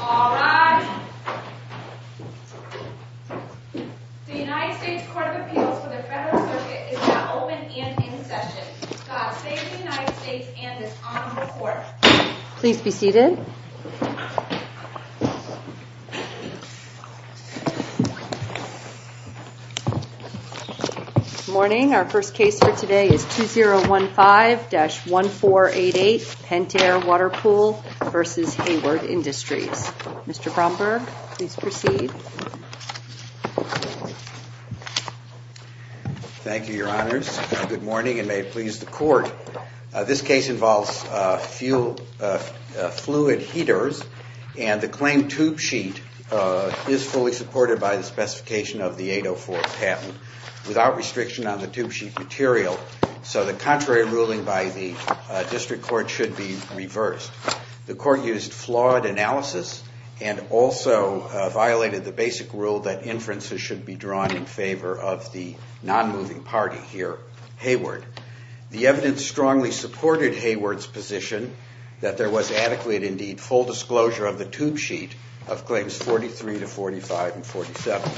All right, the United States Court of Appeals for the Federal Circuit is now open and in session. Today's United States and this Honorable Court, please be seated. Good morning, our first case for today is 2015-1488, Pentair Water Pool v. Hayward Industries. Mr. Bromberg, please proceed. Thank you, Your Honors, and good morning and may it please the Court. This case involves fluid heaters and the claim tube sheet is fully supported by the specification of the 804 patent without restriction on the tube sheet material, so the contrary ruling The Court used flawed analysis and also violated the basic rule that inferences should be drawn in favor of the non-moving party here, Hayward. The evidence strongly supported Hayward's position that there was adequate and indeed full disclosure of the tube sheet of claims 43 to 45 and 47.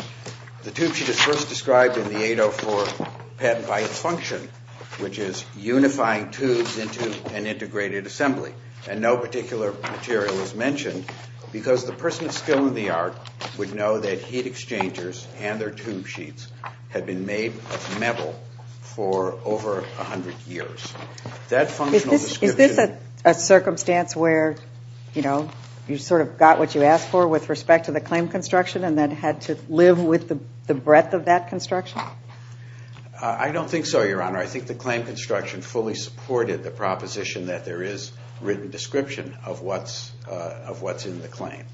The tube sheet is first described in the 804 patent by its function, which is unifying tubes into an integrated assembly and no particular material is mentioned because the person of skill in the art would know that heat exchangers and their tube sheets had been made of metal for over 100 years. Is this a circumstance where, you know, you sort of got what you asked for with respect to the claim construction and then had to live with the breadth of that construction? I don't think so, Your Honor. I think the claim construction fully supported the proposition that there is written description of what's in the claim.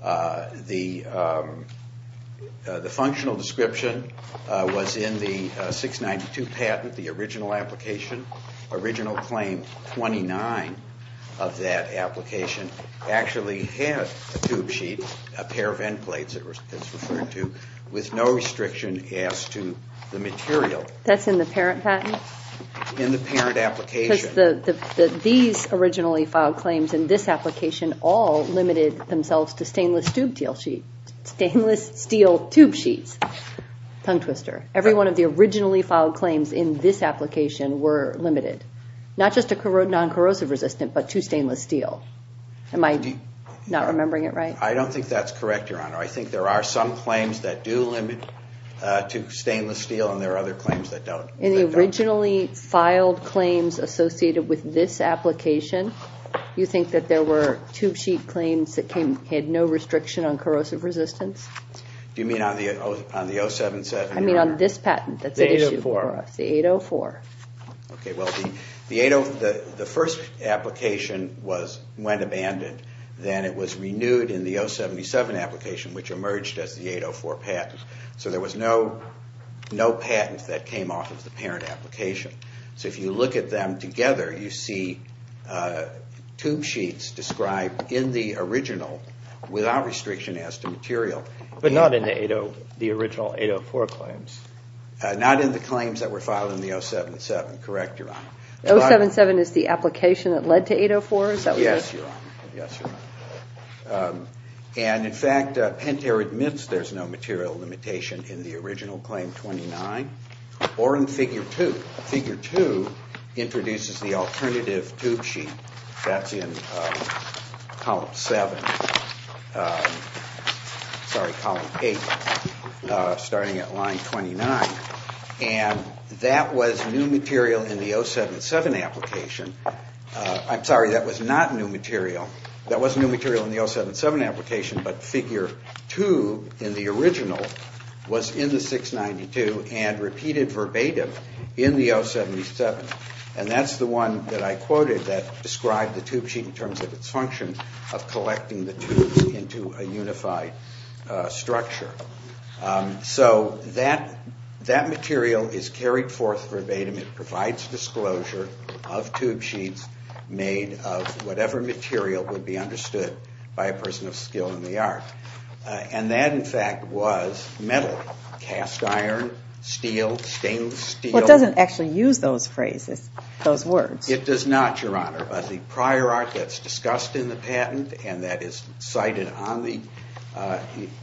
The functional description was in the 692 patent, the original application, original claim 29 of that application actually had a tube sheet, a pair of end plates it was referred to, with no restriction as to the material. That's in the parent patent? In the parent application. These originally filed claims in this application all limited themselves to stainless tube steel tube sheets. Tongue twister. Every one of the originally filed claims in this application were limited. Not just a non-corrosive resistant, but to stainless steel. I don't think that's correct, Your Honor. I think there are some claims that do limit to stainless steel, and there are other claims that don't. In the originally filed claims associated with this application, you think that there were tube sheet claims that had no restriction on corrosive resistance? You mean on the 077? I mean on this patent that's at issue for us. The 804. The 804. Okay. The first application went abandoned, then it was renewed in the 077 application, which emerged as the 804 patent. So there was no patent that came off of the parent application. So if you look at them together, you see tube sheets described in the original without restriction as to material. But not in the original 804 claims? Not in the claims that were filed in the 077, correct, Your Honor? 077 is the application that led to 804? Yes, Your Honor. Yes, Your Honor. And in fact, Pentair admits there's no material limitation in the original claim 29, or in figure 2. Figure 2 introduces the alternative tube sheet that's in column 7, sorry, column 8, starting at line 29. And that was new material in the 077 application. I'm sorry, that was not new material. That was new material in the 077 application, but figure 2 in the original was in the 692 and repeated verbatim in the 077. And that's the one that I quoted that described the tube sheet in terms of its function of collecting the tubes into a unified structure. So, that material is carried forth verbatim, it provides disclosure of tube sheets made of whatever material would be understood by a person of skill in the art. And that, in fact, was metal, cast iron, steel, stainless steel. Well, it doesn't actually use those phrases, those words. It does not, Your Honor, but the prior art that's discussed in the patent and that is cited on the,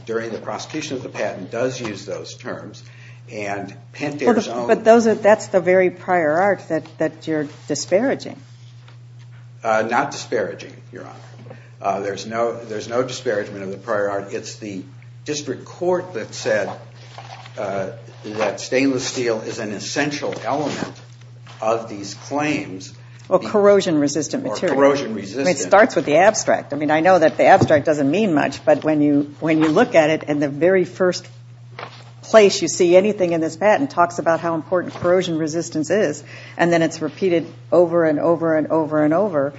during the prosecution of the patent, does use those terms. And Pentair's own- But those are, that's the very prior art that you're disparaging. Not disparaging, Your Honor. There's no disparagement of the prior art. It's the district court that said that stainless steel is an essential element of these claims- Well, corrosion resistant material. Or corrosion resistant- I mean, it starts with the abstract. I mean, I know that the abstract doesn't mean much, but when you, when you look at it and the very first place you see anything in this patent talks about how important corrosion resistance is, and then it's repeated over and over and over and over,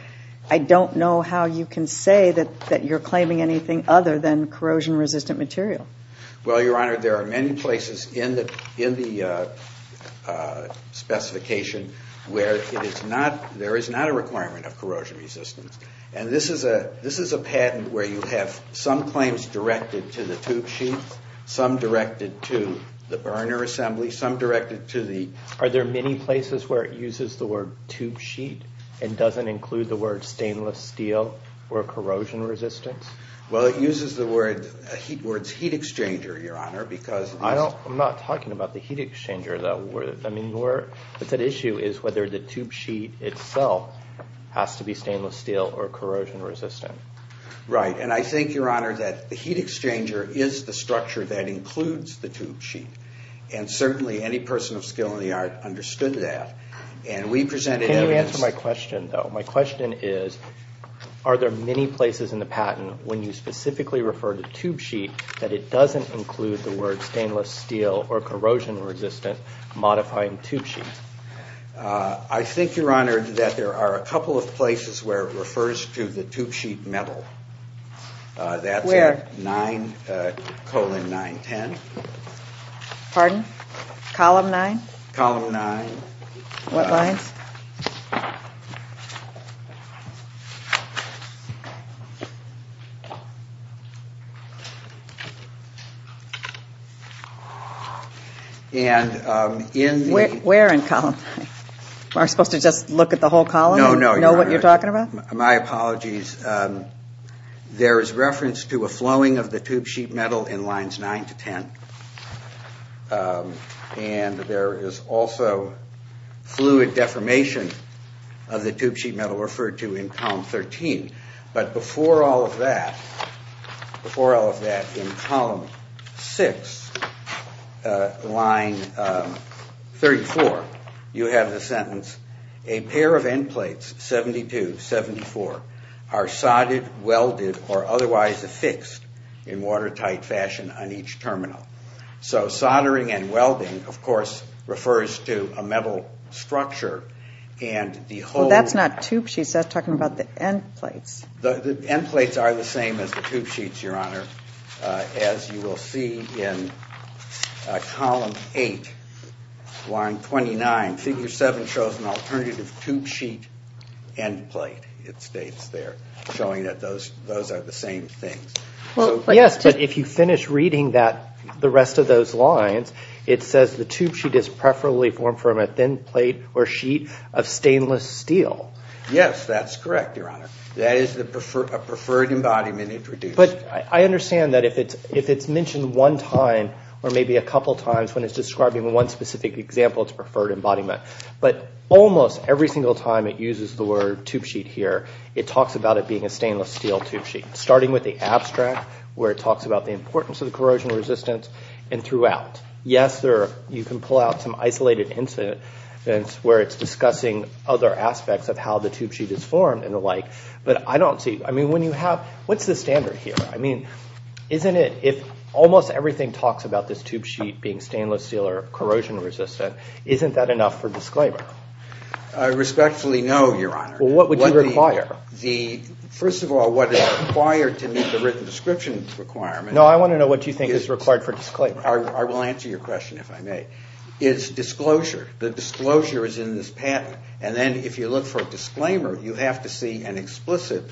I don't know how you can say that you're claiming anything other than corrosion resistant material. Well, Your Honor, there are many places in the, in the specification where it is not, there is not a requirement of corrosion resistance. And this is a, this is a patent where you have some claims directed to the tube sheet, some directed to the burner assembly, some directed to the- Are there many places where it uses the word tube sheet and doesn't include the word stainless steel or corrosion resistance? Well, it uses the word, the words heat exchanger, Your Honor, because- I don't, I'm not talking about the heat exchanger, though. I mean, where, the issue is whether the tube sheet itself has to be stainless steel or corrosion resistant. Right, and I think, Your Honor, that the heat exchanger is the structure that includes the tube sheet, and certainly any person of skill in the art understood that. And we presented evidence- Can you answer my question, though? My question is, are there many places in the patent when you specifically refer to tube sheet that it doesn't include the word stainless steel or corrosion resistant, modifying tube sheet? I think, Your Honor, that there are a couple of places where it refers to the tube sheet metal. That's in 9, 910. Where? Pardon? Column 9? Column 9. What lines? Where in column 9? Am I supposed to just look at the whole column and know what you're talking about? My apologies. There is reference to a flowing of the tube sheet metal in lines 9 to 10, and there is also fluid deformation of the tube sheet metal referred to in column 13. But before all of that, before all of that, in column 6, line 34, you have the sentence, a pair of end plates, 72, 74, are soldered, welded, or otherwise affixed in watertight fashion on each terminal. So soldering and welding, of course, refers to a metal structure, and the whole- Well, that's not tube sheets. That's talking about the end plates. The end plates are the same as the tube sheets, Your Honor, as you will see in column 8, line 29. Figure 7 shows an alternative tube sheet end plate, it states there, showing that those are the same things. Yes, but if you finish reading the rest of those lines, it says the tube sheet is preferably formed from a thin plate or sheet of stainless steel. Yes, that's correct, Your Honor. That is a preferred embodiment introduced. But I understand that if it's mentioned one time or maybe a couple times when it's describing one specific example, it's preferred embodiment. But almost every single time it uses the word tube sheet here, it talks about it being a where it talks about the importance of the corrosion resistance and throughout. Yes, you can pull out some isolated incidents where it's discussing other aspects of how the tube sheet is formed and the like, but I don't see- I mean, when you have- what's the standard here? I mean, isn't it- if almost everything talks about this tube sheet being stainless steel or corrosion resistant, isn't that enough for disclaimer? I respectfully know, Your Honor. What would you require? The- first of all, what is required to meet the written description requirement- No, I want to know what you think is required for disclaimer. I will answer your question if I may. It's disclosure. The disclosure is in this patent, and then if you look for a disclaimer, you have to see an explicit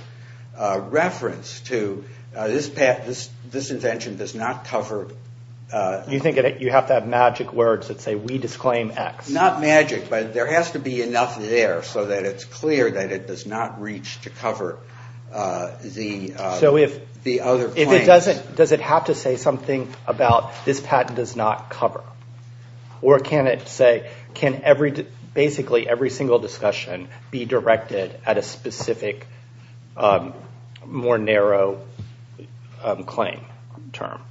reference to this patent- this invention does not cover- You think you have to have magic words that say, we disclaim X. It's not magic, but there has to be enough there so that it's clear that it does not reach to cover the other claims. Does it have to say something about, this patent does not cover? Or can it say, can basically every single discussion be directed at a specific, more narrow claim term?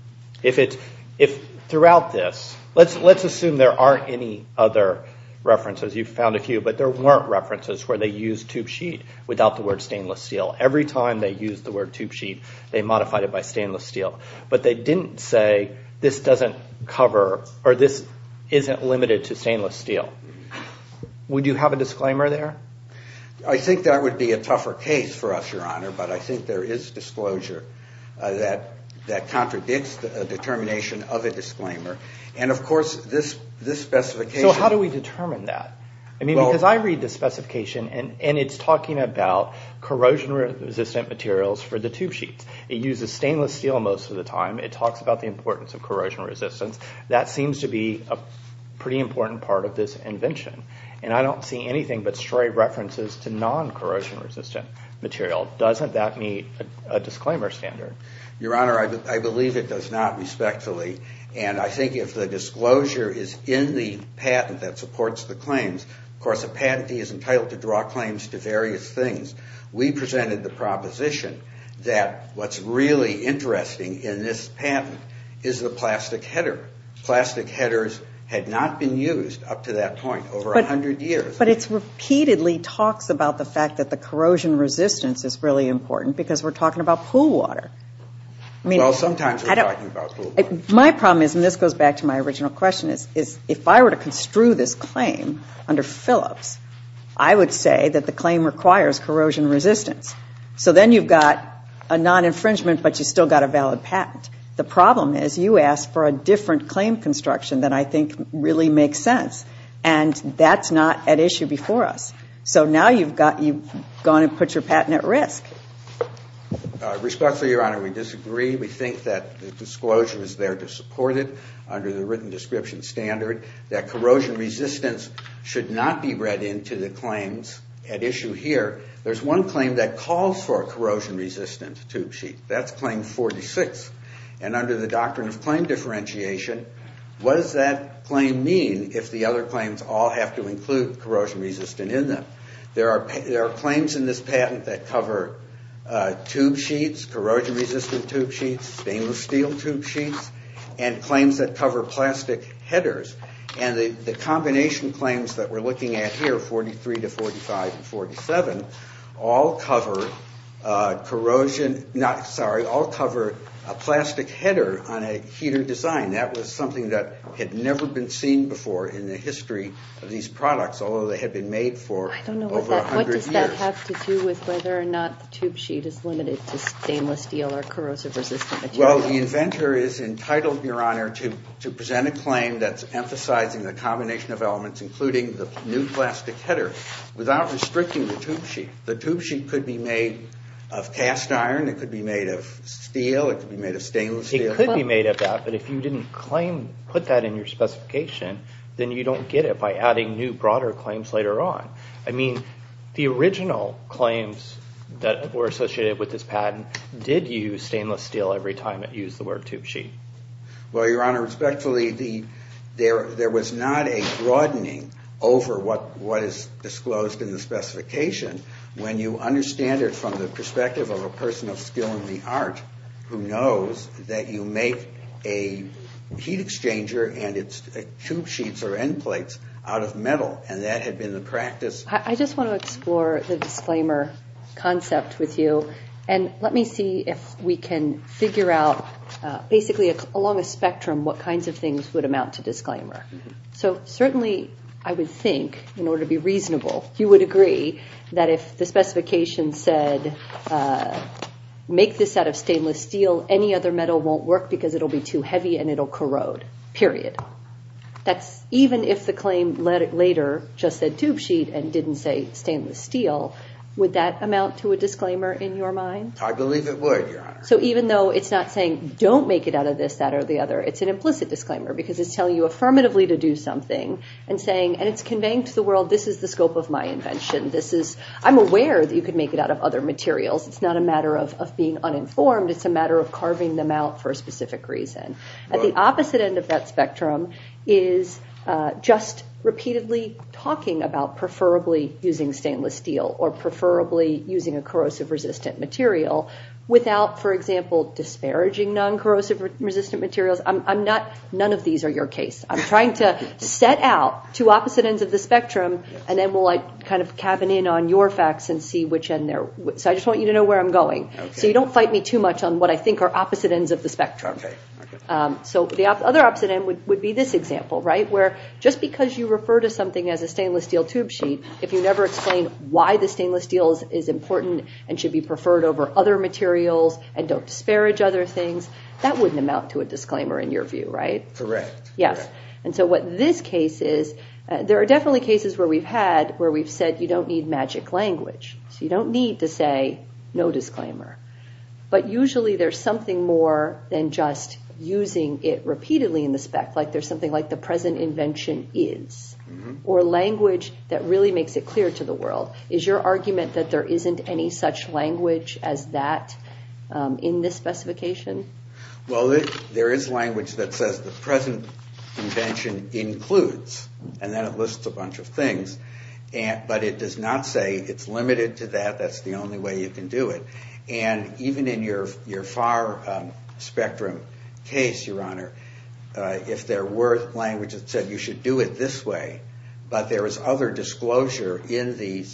If it's- if throughout this- let's assume there aren't any other references. You've found a few, but there weren't references where they used tube sheet without the word stainless steel. Every time they used the word tube sheet, they modified it by stainless steel. But they didn't say, this doesn't cover, or this isn't limited to stainless steel. Would you have a disclaimer there? I think that would be a tougher case for us, Your Honor, but I think there is disclosure that contradicts the determination of a disclaimer. And of course, this specification- So how do we determine that? I mean, because I read the specification, and it's talking about corrosion-resistant materials for the tube sheets. It uses stainless steel most of the time. It talks about the importance of corrosion resistance. That seems to be a pretty important part of this invention. And I don't see anything but stray references to non-corrosion-resistant material. Doesn't that meet a disclaimer standard? Your Honor, I believe it does not, respectfully. And I think if the disclosure is in the patent that supports the claims, of course, a patentee is entitled to draw claims to various things. We presented the proposition that what's really interesting in this patent is the plastic header. Plastic headers had not been used up to that point, over 100 years. But it repeatedly talks about the fact that the corrosion resistance is really important because we're talking about pool water. Well, sometimes we're talking about pool water. My problem is, and this goes back to my original question, is if I were to construe this claim under Phillips, I would say that the claim requires corrosion resistance. So then you've got a non-infringement, but you've still got a valid patent. The problem is you ask for a different claim construction that I think really makes sense. And that's not at issue before us. So now you've gone and put your patent at risk. Respectfully, Your Honor, we disagree. We think that the disclosure is there to support it under the written description standard. That corrosion resistance should not be read into the claims at issue here. There's one claim that calls for a corrosion-resistant tube sheet. That's claim 46. And under the doctrine of claim differentiation, what does that claim mean if the other claims all have to include corrosion-resistant in them? There are claims in this patent that cover tube sheets, corrosion-resistant tube sheets, stainless steel tube sheets, and claims that cover plastic headers. And the combination claims that we're looking at here, 43 to 45 and 47, all cover a plastic header on a heater design. That was something that had never been seen before in the history of these products, although they had been made for over 100 years. I don't know what that, what does that have to do with whether or not the tube sheet is limited to stainless steel or corrosive-resistant material? Well, the inventor is entitled, Your Honor, to present a claim that's emphasizing the combination of elements, including the new plastic header, without restricting the tube sheet. The tube sheet could be made of cast iron. It could be made of steel. It could be made of stainless steel. But if you didn't claim, put that in your specification, then you don't get it by adding new, broader claims later on. I mean, the original claims that were associated with this patent did use stainless steel every time it used the word tube sheet. Well, Your Honor, respectfully, there was not a broadening over what is disclosed in the specification. When you understand it from the perspective of a person of skill in the art who knows that you make a heat exchanger and its tube sheets or end plates out of metal, and that had been the practice. I just want to explore the disclaimer concept with you, and let me see if we can figure out, basically, along a spectrum, what kinds of things would amount to disclaimer. So, certainly, I would think, in order to be reasonable, you would agree that if the metal won't work because it'll be too heavy and it'll corrode, period. That's even if the claim later just said tube sheet and didn't say stainless steel, would that amount to a disclaimer in your mind? I believe it would, Your Honor. So even though it's not saying, don't make it out of this, that, or the other, it's an implicit disclaimer because it's telling you affirmatively to do something and saying, and it's conveying to the world, this is the scope of my invention. I'm aware that you could make it out of other materials. It's not a matter of being uninformed. It's a matter of carving them out for a specific reason. At the opposite end of that spectrum is just repeatedly talking about preferably using stainless steel or preferably using a corrosive-resistant material without, for example, disparaging non-corrosive-resistant materials. None of these are your case. I'm trying to set out two opposite ends of the spectrum, and then we'll kind of cabin in on your facts and see which end they're... So I just want you to know where I'm going. So you don't fight me too much on what I think are opposite ends of the spectrum. So the other opposite end would be this example, right? Where just because you refer to something as a stainless steel tube sheet, if you never explain why the stainless steel is important and should be preferred over other materials and don't disparage other things, that wouldn't amount to a disclaimer in your view, right? Correct. Yes. And so what this case is, there are definitely cases where we've had where we've said, you don't need magic language. So you don't need to say, no disclaimer. But usually there's something more than just using it repeatedly in the spec. Like there's something like the present invention is, or language that really makes it clear to the world. Is your argument that there isn't any such language as that in this specification? Well, there is language that says the present invention includes, and then it lists a bunch of things, but it does not say it's limited to that. That's the only way you can do it. And even in your far spectrum case, your honor, if there were language that said you should do it this way, but there is other disclosure in the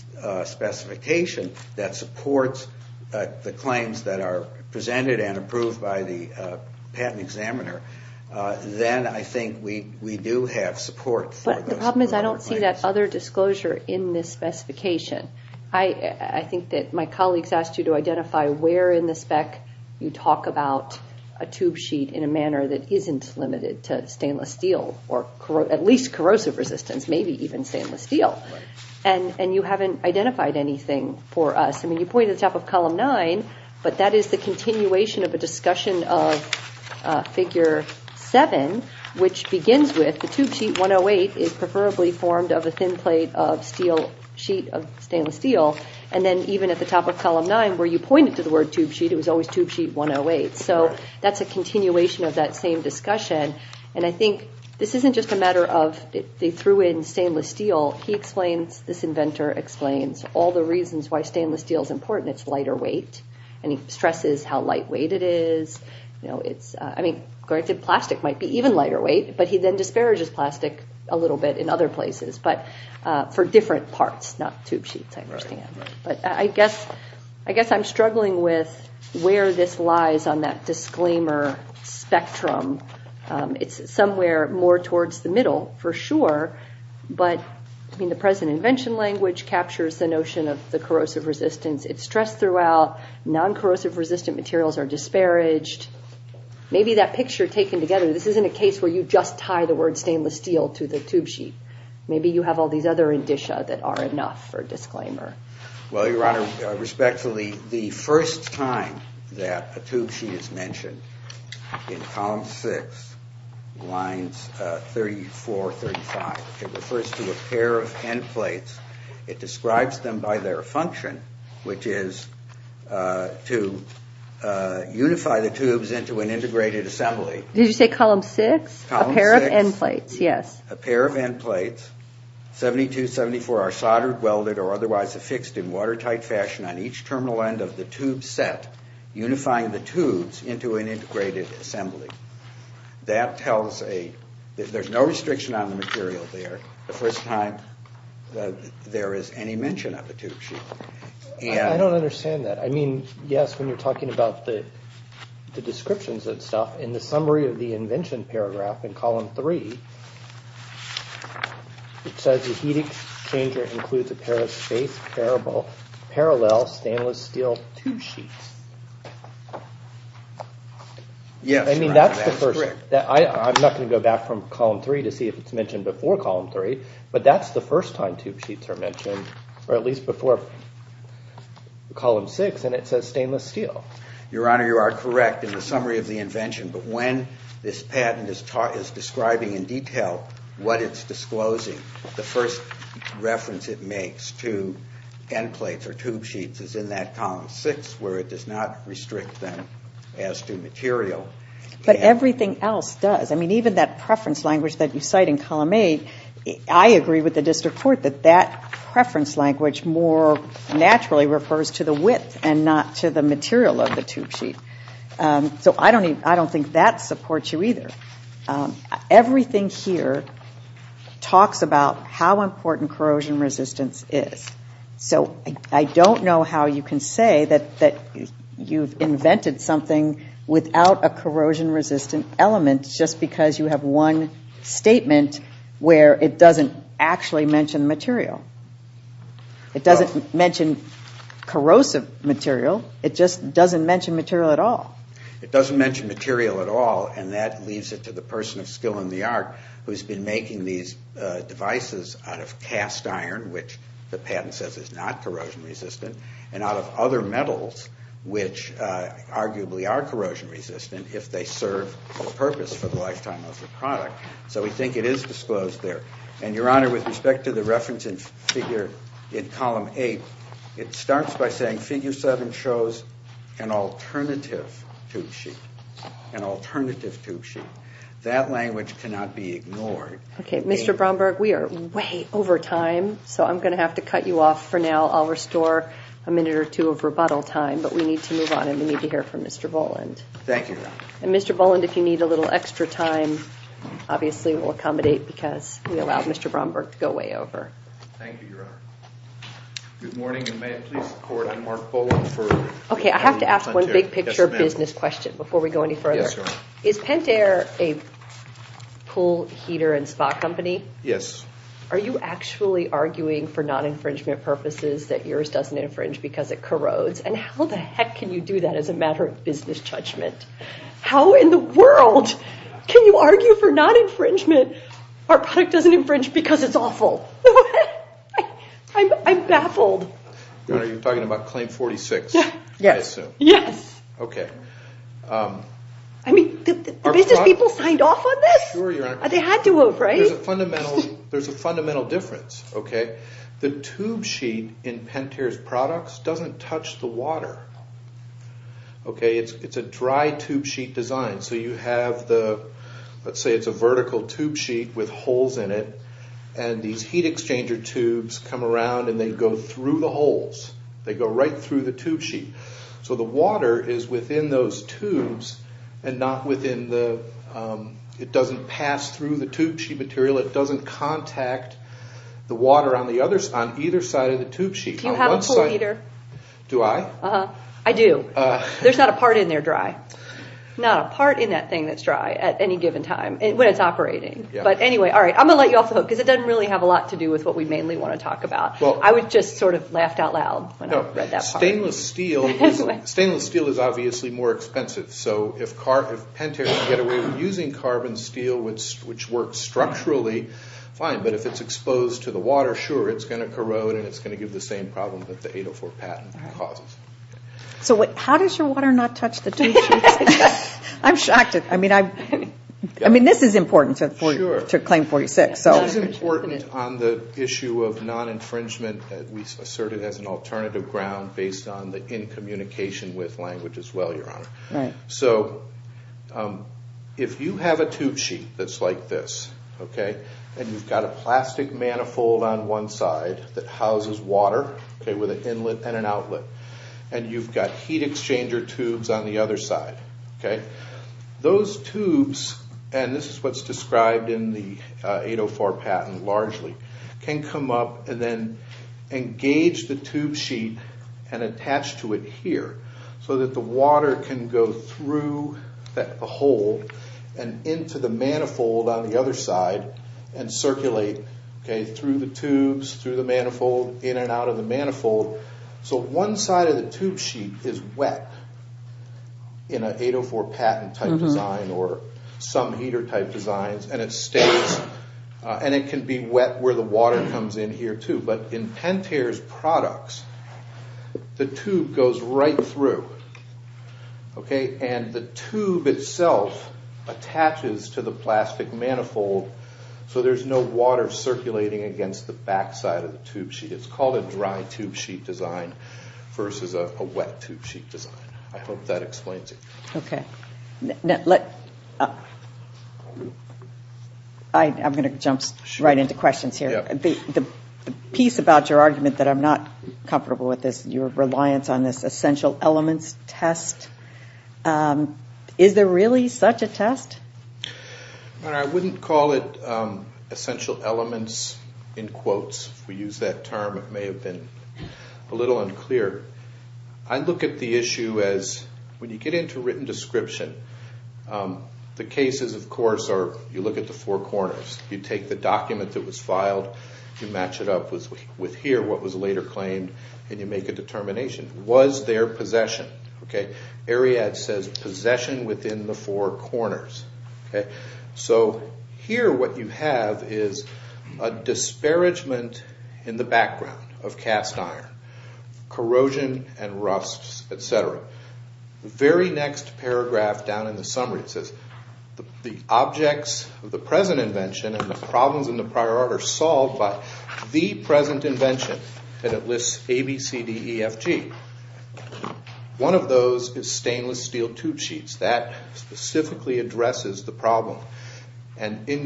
specification that supports the claims that are presented and approved by the patent examiner, then I think we do have support. But the problem is I don't see that other disclosure in this specification. I think that my colleagues asked you to identify where in the spec you talk about a tube sheet in a manner that isn't limited to stainless steel or at least corrosive resistance, maybe even stainless steel. And you haven't identified anything for us. I mean, you pointed to the top of column nine, but that is the continuation of a discussion of figure seven, which begins with the tube sheet 108 is preferably formed of a thin plate of stainless steel. And then even at the top of column nine where you pointed to the word tube sheet, it was always tube sheet 108. So that's a continuation of that same discussion. And I think this isn't just a matter of they threw in stainless steel. He explains, this inventor explains all the reasons why stainless steel is important. It's lighter weight. And he stresses how lightweight it is. I mean, plastic might be even lighter weight, but he then disparages plastic a little bit in other places, but for different parts, not tube sheets, I understand. But I guess I'm struggling with where this lies on that disclaimer spectrum. It's somewhere more towards the middle for sure. But I mean, the present invention language captures the notion of the corrosive resistance. It's stressed throughout. Non-corrosive resistant materials are disparaged. Maybe that picture taken together, this isn't a case where you just tie the word stainless steel to the tube sheet. Maybe you have all these other indicia that are enough for disclaimer. Well, Your Honor, respectfully, the first time that a tube sheet is mentioned in column six, lines 34, 35, it refers to a pair of end plates. It describes them by their function, which is to unify the tubes into an integrated assembly. Did you say column six? Column six. A pair of end plates, yes. A pair of end plates, 72, 74 are soldered, welded, or otherwise affixed in watertight fashion on each terminal end of the tube set, unifying the tubes into an integrated assembly. That tells a, there's no restriction on the material there. The first time that there is any mention of a tube sheet. I don't understand that. I mean, yes, when you're talking about the descriptions and stuff, in the summary of the invention paragraph in column three, it says the heat exchanger includes a pair of parallel stainless steel tube sheets. Yes. I mean, that's the first, I'm not going to go back from column three to see if it's but that's the first time tube sheets are mentioned, or at least before column six, and it says stainless steel. Your Honor, you are correct in the summary of the invention. But when this patent is describing in detail what it's disclosing, the first reference it makes to end plates or tube sheets is in that column six, where it does not restrict them as to material. But everything else does. Even that preference language that you cite in column eight, I agree with the district court that that preference language more naturally refers to the width and not to the material of the tube sheet. So I don't think that supports you either. Everything here talks about how important corrosion resistance is. So I don't know how you can say that you've invented something without a corrosion resistant element just because you have one statement where it doesn't actually mention material. It doesn't mention corrosive material. It just doesn't mention material at all. It doesn't mention material at all. And that leaves it to the person of skill in the art who's been making these devices out of cast iron, which the patent says is not corrosion resistant, and out of other if they serve a purpose for the lifetime of the product. So we think it is disclosed there. And Your Honor, with respect to the reference in figure in column eight, it starts by saying figure seven shows an alternative tube sheet, an alternative tube sheet. That language cannot be ignored. Okay, Mr. Bromberg, we are way over time. So I'm going to have to cut you off for now. I'll restore a minute or two of rebuttal time. But we need to move on and we need to hear from Mr. Voland. And Mr. Voland, if you need a little extra time, obviously, we'll accommodate because we allowed Mr. Bromberg to go way over. Thank you, Your Honor. Good morning, and may it please the court, I'm Mark Voland for- Okay, I have to ask one big picture business question before we go any further. Is Pentair a pool heater and spa company? Yes. Are you actually arguing for non-infringement purposes that yours doesn't infringe because it corrodes? And how the heck can you do that as a matter of business judgment? How in the world can you argue for non-infringement? Our product doesn't infringe because it's awful. I'm baffled. Your Honor, you're talking about claim 46? Yeah. Yes. Yes. Okay. I mean, the business people signed off on this? Sure, Your Honor. They had to have, right? There's a fundamental difference, okay? The tube sheet in Pentair's products doesn't touch the water. Okay, it's a dry tube sheet design. So you have the, let's say it's a vertical tube sheet with holes in it, and these heat exchanger tubes come around and they go through the holes. They go right through the tube sheet. So the water is within those tubes and not within the, it doesn't pass through the tube sheet material. It doesn't contact the water on either side of the tube sheet. Do you have a pool heater? Do I? Uh-huh. I do. There's not a part in there dry. Not a part in that thing that's dry at any given time when it's operating. But anyway, all right, I'm going to let you off the hook because it doesn't really have a lot to do with what we mainly want to talk about. I would just sort of laughed out loud when I read that part. Stainless steel is obviously more expensive. So if Pentair can get away with using carbon steel, which works structurally, fine. But if it's exposed to the water, sure, it's going to corrode and it's going to give the same problem that the 804 patent causes. So how does your water not touch the tube sheet? I'm shocked. I mean, this is important to Claim 46. This is important on the issue of non-infringement that we asserted as an alternative ground based on the in-communication with language as well, Your Honor. So if you have a tube sheet that's like this, okay, and you've got a plastic manifold on one side that houses water, okay, with an inlet and an outlet, and you've got heat exchanger tubes on the other side, okay, those tubes, and this is what's described in the 804 patent largely, can come up and then engage the tube sheet and attach to it here so that the water can go through the hole and into the manifold on the other side and circulate, okay, through the tubes, through the manifold, in and out of the manifold. So one side of the tube sheet is wet in an 804 patent type design or some heater type designs and it stays and it can be wet where the water comes in here too. But in Pentair's products, the tube goes right through, okay, and the tube itself attaches to the plastic manifold so there's no water circulating against the back side of the tube sheet. It's called a dry tube sheet design versus a wet tube sheet design. I hope that explains it. Okay. I'm going to jump right into questions here. The piece about your argument that I'm not comfortable with is your reliance on this essential elements test. Is there really such a test? I wouldn't call it essential elements in quotes. If we use that term, it may have been a little unclear. I look at the issue as when you get into written description, the cases, of course, are you look at the four corners. You take the document that was filed, you match it up with here, what was later claimed, Was there possession? Okay. So here what you have is a disparagement in the background of cast iron, corrosion and rusts, et cetera. The very next paragraph down in the summary, it says the objects of the present invention and the problems in the prior art are solved by the present invention and it lists A, B, C, D, E, F, G. One of those is stainless steel tube sheets. That specifically addresses the problem. And in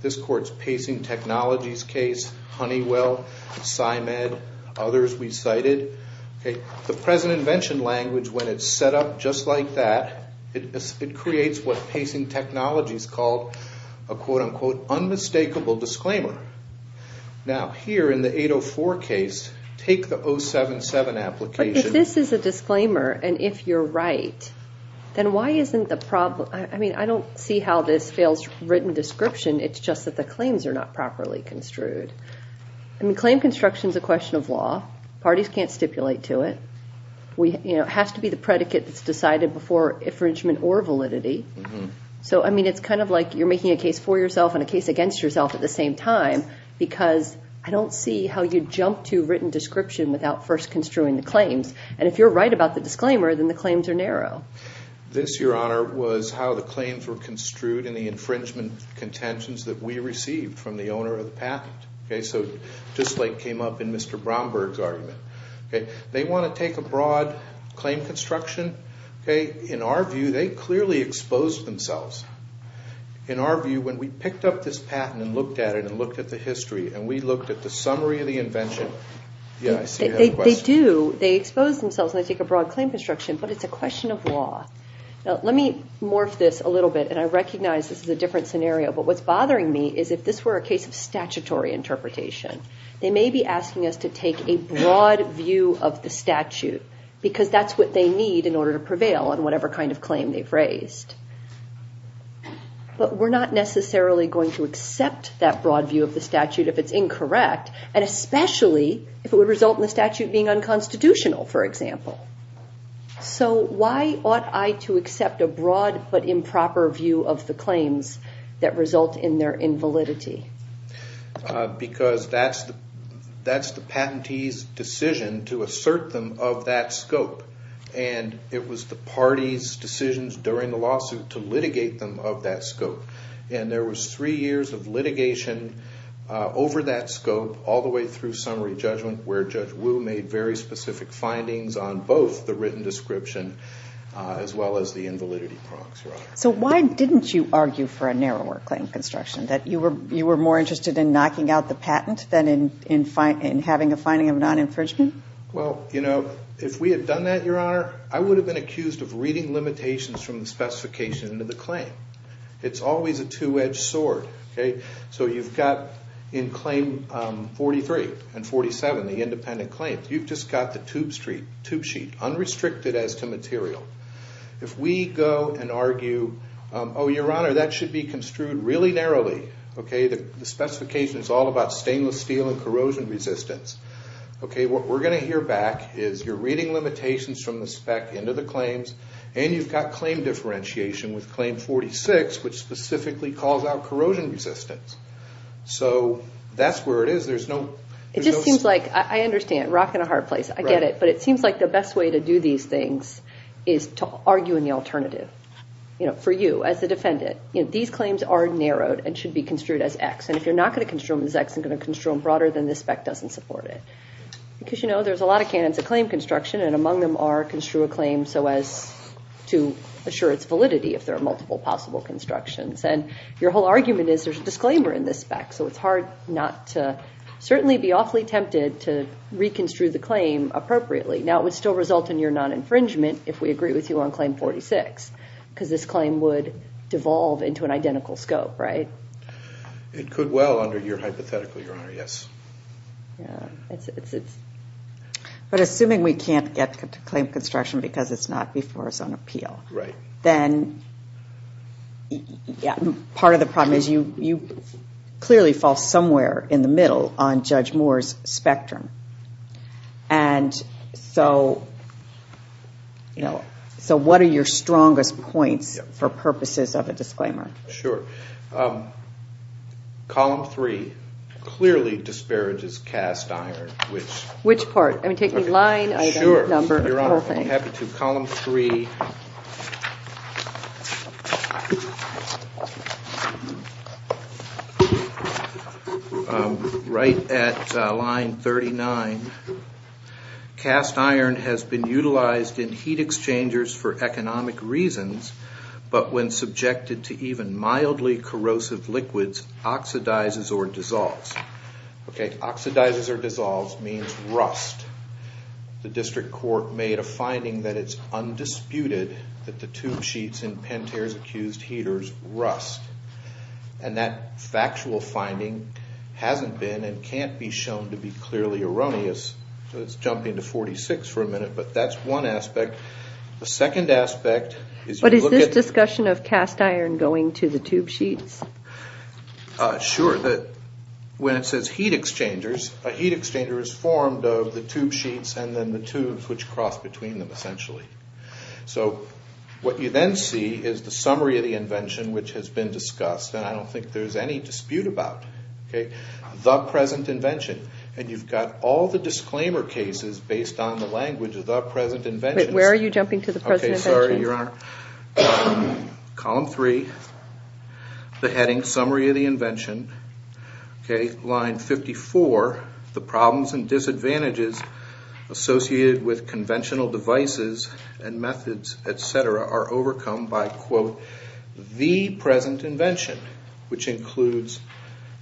this court's pacing technologies case, Honeywell, CIMED, others we cited. The present invention language, when it's set up just like that, it creates what pacing technologies called a quote unquote unmistakable disclaimer. Now here in the 804 case, take the 077 application. If this is a disclaimer and if you're right, then why isn't the problem, I mean, I don't see how this fails written description. It's just that the claims are not properly construed. Claim construction is a question of law. Parties can't stipulate to it. It has to be the predicate that's decided before infringement or validity. So I mean, it's kind of like you're making a case for yourself and a case against yourself at the same time because I don't see how you jump to written description without first construing the claims. And if you're right about the disclaimer, then the claims are narrow. This, Your Honor, was how the claims were construed in the infringement contentions that we received from the owner of the patent. Okay, so just like came up in Mr. Brownberg's argument. They want to take a broad claim construction. In our view, they clearly exposed themselves. In our view, when we picked up this patent and looked at it and looked at the history and we looked at the summary of the invention. Yeah, I see you have a question. They expose themselves and they take a broad claim construction, but it's a question of law. Now, let me morph this a little bit. And I recognize this is a different scenario. But what's bothering me is if this were a case of statutory interpretation, they may be asking us to take a broad view of the statute because that's what they need in order to prevail on whatever kind of claim they've raised. But we're not necessarily going to accept that broad view of the statute if it's incorrect. And especially if it would result in the statute being unconstitutional, for example. So why ought I to accept a broad but improper view of the claims that result in their invalidity? Because that's the patentee's decision to assert them of that scope. And it was the party's decisions during the lawsuit to litigate them of that scope. And there was three years of litigation over that scope all the way through summary judgment where Judge Wu made very specific findings on both the written description as well as the invalidity prompts, Your Honor. So why didn't you argue for a narrower claim construction? That you were more interested in knocking out the patent than in having a finding of non-infringement? Well, you know, if we had done that, Your Honor, I would have been accused of reading limitations from the specification into the claim. It's always a two-edged sword, okay? So you've got in Claim 43 and 47, the independent claims, you've just got the tube sheet, unrestricted as to material. If we go and argue, oh, Your Honor, that should be construed really narrowly, okay? The specification is all about stainless steel and corrosion resistance. Okay, what we're going to hear back is you're reading limitations from the spec into the which specifically calls out corrosion resistance. So that's where it is. There's no... It just seems like, I understand, rock in a hard place. I get it. But it seems like the best way to do these things is to argue in the alternative, you know, for you as the defendant. These claims are narrowed and should be construed as X. And if you're not going to construe them as X and going to construe them broader, then the spec doesn't support it. Because, you know, there's a lot of canons of claim construction, and among them are so as to assure its validity if there are multiple possible constructions. And your whole argument is there's a disclaimer in this spec. So it's hard not to certainly be awfully tempted to reconstrue the claim appropriately. Now, it would still result in your non-infringement if we agree with you on Claim 46. Because this claim would devolve into an identical scope, right? It could well under your hypothetical, Your Honor, yes. Yeah. But assuming we can't get to claim construction because it's not before a zone appeal. Right. Then, yeah, part of the problem is you clearly fall somewhere in the middle on Judge Moore's spectrum. And so, you know, so what are your strongest points for purposes of a disclaimer? Sure. Column three clearly disparages cast iron, which. Which part? I mean, take me line, item, number, whole thing. Sure, Your Honor, I'm happy to. Column three. Right at line 39, cast iron has been utilized in heat exchangers for economic reasons, but when subjected to even mildly corrosive liquids, oxidizes or dissolves. Okay, oxidizes or dissolves means rust. The district court made a finding that it's undisputed that the tube sheets in Pantera's accused heaters rust. And that factual finding hasn't been and can't be shown to be clearly erroneous. So it's jumping to 46 for a minute, but that's one aspect. The second aspect is. What is this discussion of cast iron going to the tube sheets? Sure, that when it says heat exchangers, a heat exchanger is formed of the tube sheets and then the tubes which cross between them, essentially. So what you then see is the summary of the invention, which has been discussed. And I don't think there's any dispute about, okay, the present invention. And you've got all the disclaimer cases based on the language of the present invention. Where are you jumping to the present invention? Okay, sorry, Your Honor. Column three, the heading summary of the invention. Okay, line 54, the problems and disadvantages associated with conventional devices and methods, et cetera, are overcome by quote, the present invention, which includes.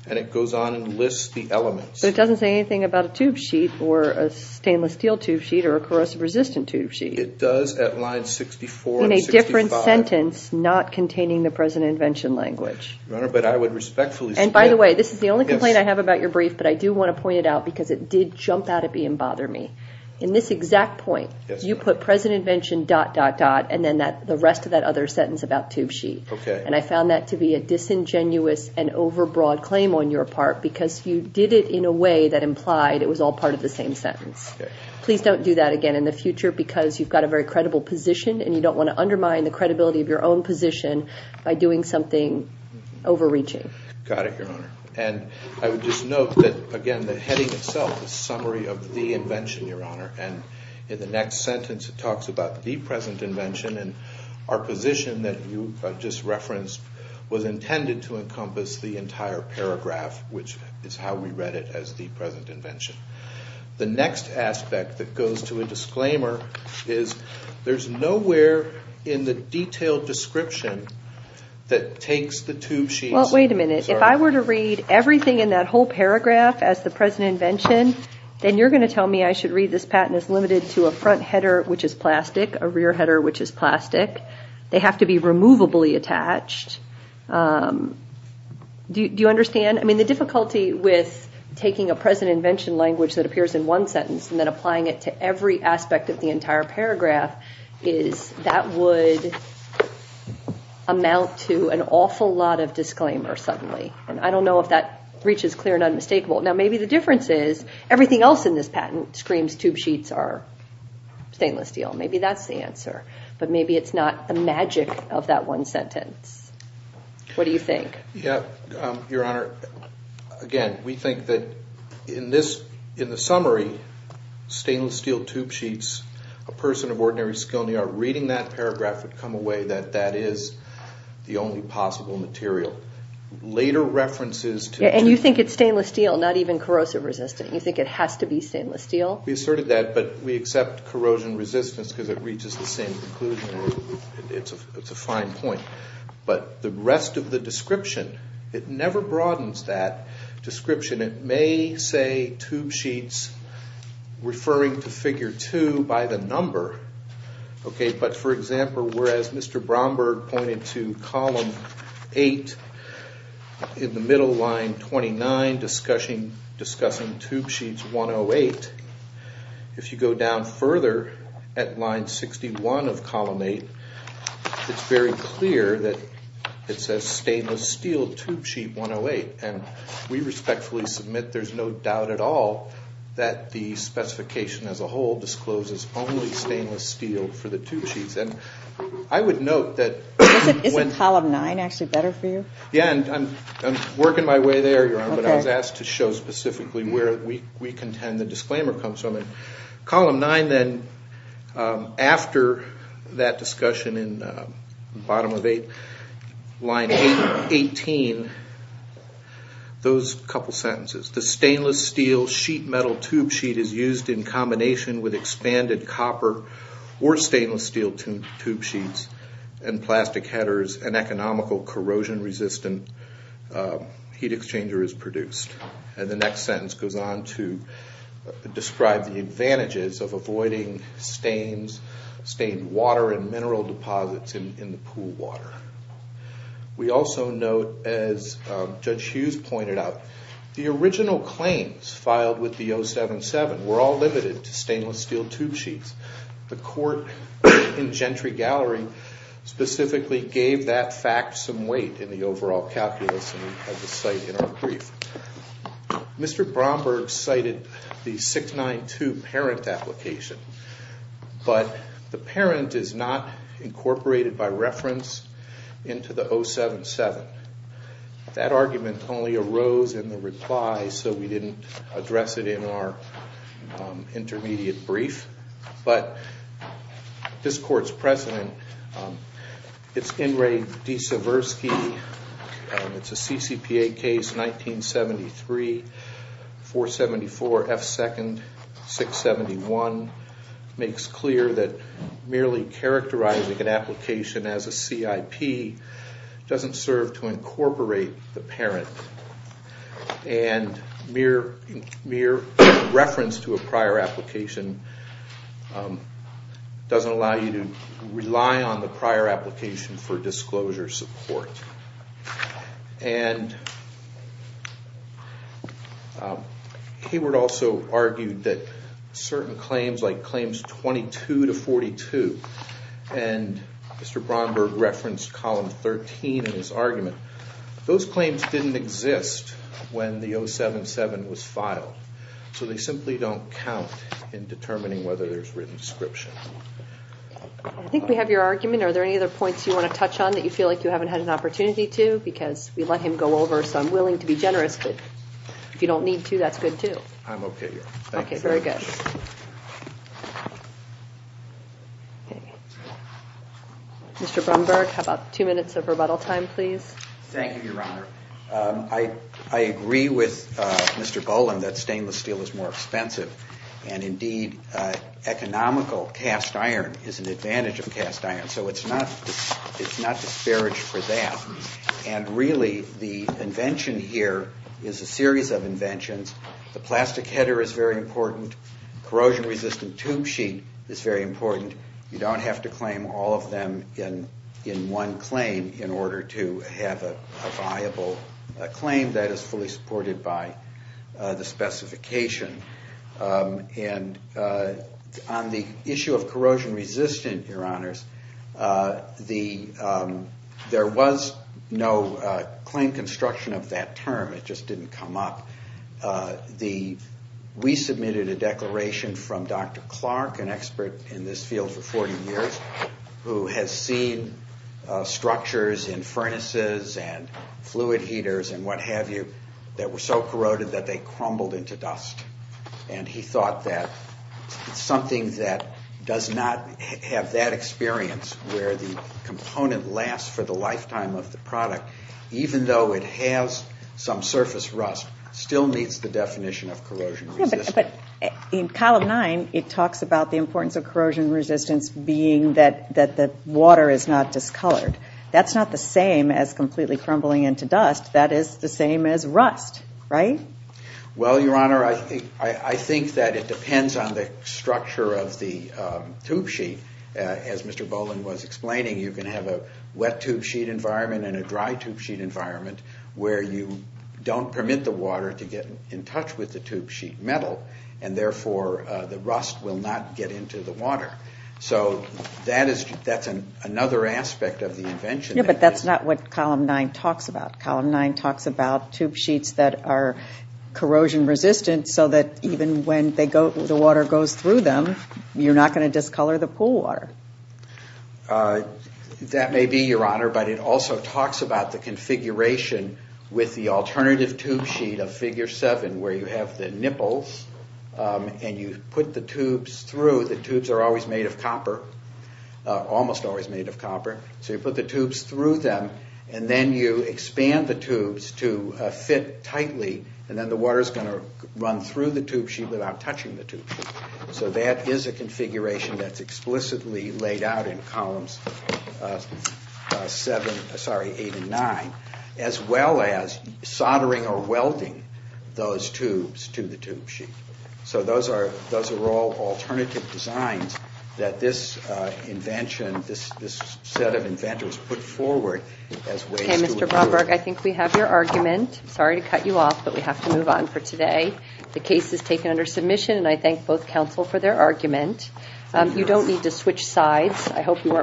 And it goes on and lists the elements. It doesn't say anything about a tube sheet or a stainless steel tube sheet or a corrosive resistant tube sheet. It does at line 64 and 65. In a different sentence, not containing the present invention language. Your Honor, but I would respectfully submit. And by the way, this is the only complaint I have about your brief, but I do want to point it out because it did jump out at me and bother me. In this exact point, you put present invention dot, dot, dot, and then the rest of that other sentence about tube sheet. Okay. And I found that to be a disingenuous and overbroad claim on your part, because you did it in a way that implied it was all part of the same sentence. Please don't do that again in the future because you've got a very credible position and you don't want to undermine the credibility of your own position by doing something overreaching. Got it, Your Honor. And I would just note that, again, the heading itself is summary of the invention, Your Honor. And in the next sentence, it talks about the present invention. And our position that you just referenced was intended to encompass the entire paragraph, which is how we read it as the present invention. The next aspect that goes to a disclaimer is there's nowhere in the detailed description that takes the tube sheet. Well, wait a minute. If I were to read everything in that whole paragraph as the present invention, then you're going to tell me I should read this patent as limited to a front header, which is plastic, a rear header, which is plastic. They have to be removably attached. Do you understand? The difficulty with taking a present invention language that appears in one sentence and then applying it to every aspect of the entire paragraph is that would amount to an awful lot of disclaimer suddenly. And I don't know if that reach is clear and unmistakable. Now, maybe the difference is everything else in this patent screams tube sheets are stainless steel. Maybe that's the answer. But maybe it's not the magic of that one sentence. What do you think? Yeah, Your Honor, again, we think that in the summary, stainless steel tube sheets, a person of ordinary skill in the art reading that paragraph would come away that that is the only possible material. Later references to- And you think it's stainless steel, not even corrosive resistant. You think it has to be stainless steel? We asserted that, but we accept corrosion resistance because it reaches the same conclusion. It's a fine point. But the rest of the description, it never broadens that description. It may say tube sheets referring to figure two by the number. OK, but for example, whereas Mr. Bromberg pointed to column eight in the middle line 29 discussing discussing tube sheets 108. If you go down further at line 61 of column eight, it's very clear that it says stainless steel tube sheet 108. And we respectfully submit there's no doubt at all that the specification as a whole discloses only stainless steel for the tube sheets. And I would note that- Isn't column nine actually better for you? Yeah, and I'm working my way there, Your Honor. But I was asked to show specifically where we contend the disclaimer comes from. Column nine then, after that discussion in the bottom of eight, line 18, those couple sentences. The stainless steel sheet metal tube sheet is used in combination with expanded copper or stainless steel tube sheets and plastic headers and the next sentence goes on to describe the advantages of avoiding stains, stained water and mineral deposits in the pool water. We also note, as Judge Hughes pointed out, the original claims filed with the 077 were all limited to stainless steel tube sheets. The court in Gentry Gallery specifically gave that fact some weight in the overall calculus and we have the site in our brief. Mr. Bromberg cited the 692 parent application, but the parent is not incorporated by reference into the 077. That argument only arose in the reply, so we didn't address it in our intermediate brief. But this court's president, it's Inray D. Seversky, it's a CCPA case 1973-474-F2-671, makes clear that merely characterizing an application as a CIP doesn't serve to incorporate the parent. And mere reference to a prior application doesn't allow you to rely on the prior application for disclosure support. And Kiewert also argued that certain claims, like claims 22-42, and Mr. Bromberg referenced column 13 in his argument, those claims didn't exist when the 077 was filed. So they simply don't count in determining whether there's written description. I think we have your argument. Are there any other points you want to touch on that you feel like you haven't had an opportunity to? Because we let him go over, so I'm willing to be generous, but if you don't need to, that's good too. I'm okay here. Okay, very good. Mr. Bromberg, how about two minutes of rebuttal time, please? Thank you, Your Honor. I agree with Mr. Boland that stainless steel is more expensive. And indeed, economical cast iron is an advantage of cast iron. So it's not disparaged for that. And really, the invention here is a series of inventions. The plastic header is very important. Corrosion-resistant tube sheet is very important. You don't have to claim all of them in one claim in order to have a viable claim that is fully supported by the specification. And on the issue of corrosion-resistant, Your Honors, there was no claim construction of that term. It just didn't come up. We submitted a declaration from Dr. Clark, an expert in this field for 40 years, who has seen structures in furnaces and fluid heaters and what have you that were so corroded that they crumbled into dust. And he thought that something that does not have that experience where the component lasts for the lifetime of the product, even though it has some surface rust, still meets the definition of corrosion-resistant. But in Column 9, it talks about the importance of corrosion-resistance being that the water is not discolored. That's not the same as completely crumbling into dust. That is the same as rust, right? Well, Your Honor, I think that it depends on the structure of the tube sheet. As Mr. Boland was explaining, you can have a wet tube sheet environment and a dry tube sheet environment where you don't permit the water to get in touch with the tube sheet metal. And therefore, the rust will not get into the water. So that's another aspect of the invention. Yeah, but that's not what Column 9 talks about. Column 9 talks about tube sheets that are corrosion-resistant so that even when the water goes through them, you're not going to discolor the pool water. That may be, Your Honor, but it also talks about the configuration and you put the tubes through. The tubes are always made of copper, almost always made of copper. So you put the tubes through them and then you expand the tubes to fit tightly and then the water is going to run through the tube sheet without touching the tube sheet. So that is a configuration that's explicitly laid out in Columns 8 and 9, as well as soldering or welding those tubes to the tube sheet. So those are all alternative designs that this invention, this set of inventors put forward as ways to improve. Okay, Mr. Bromberg, I think we have your argument. Sorry to cut you off, but we have to move on for today. The case is taken under submission and I thank both counsel for their argument. You don't need to switch sides. I hope you weren't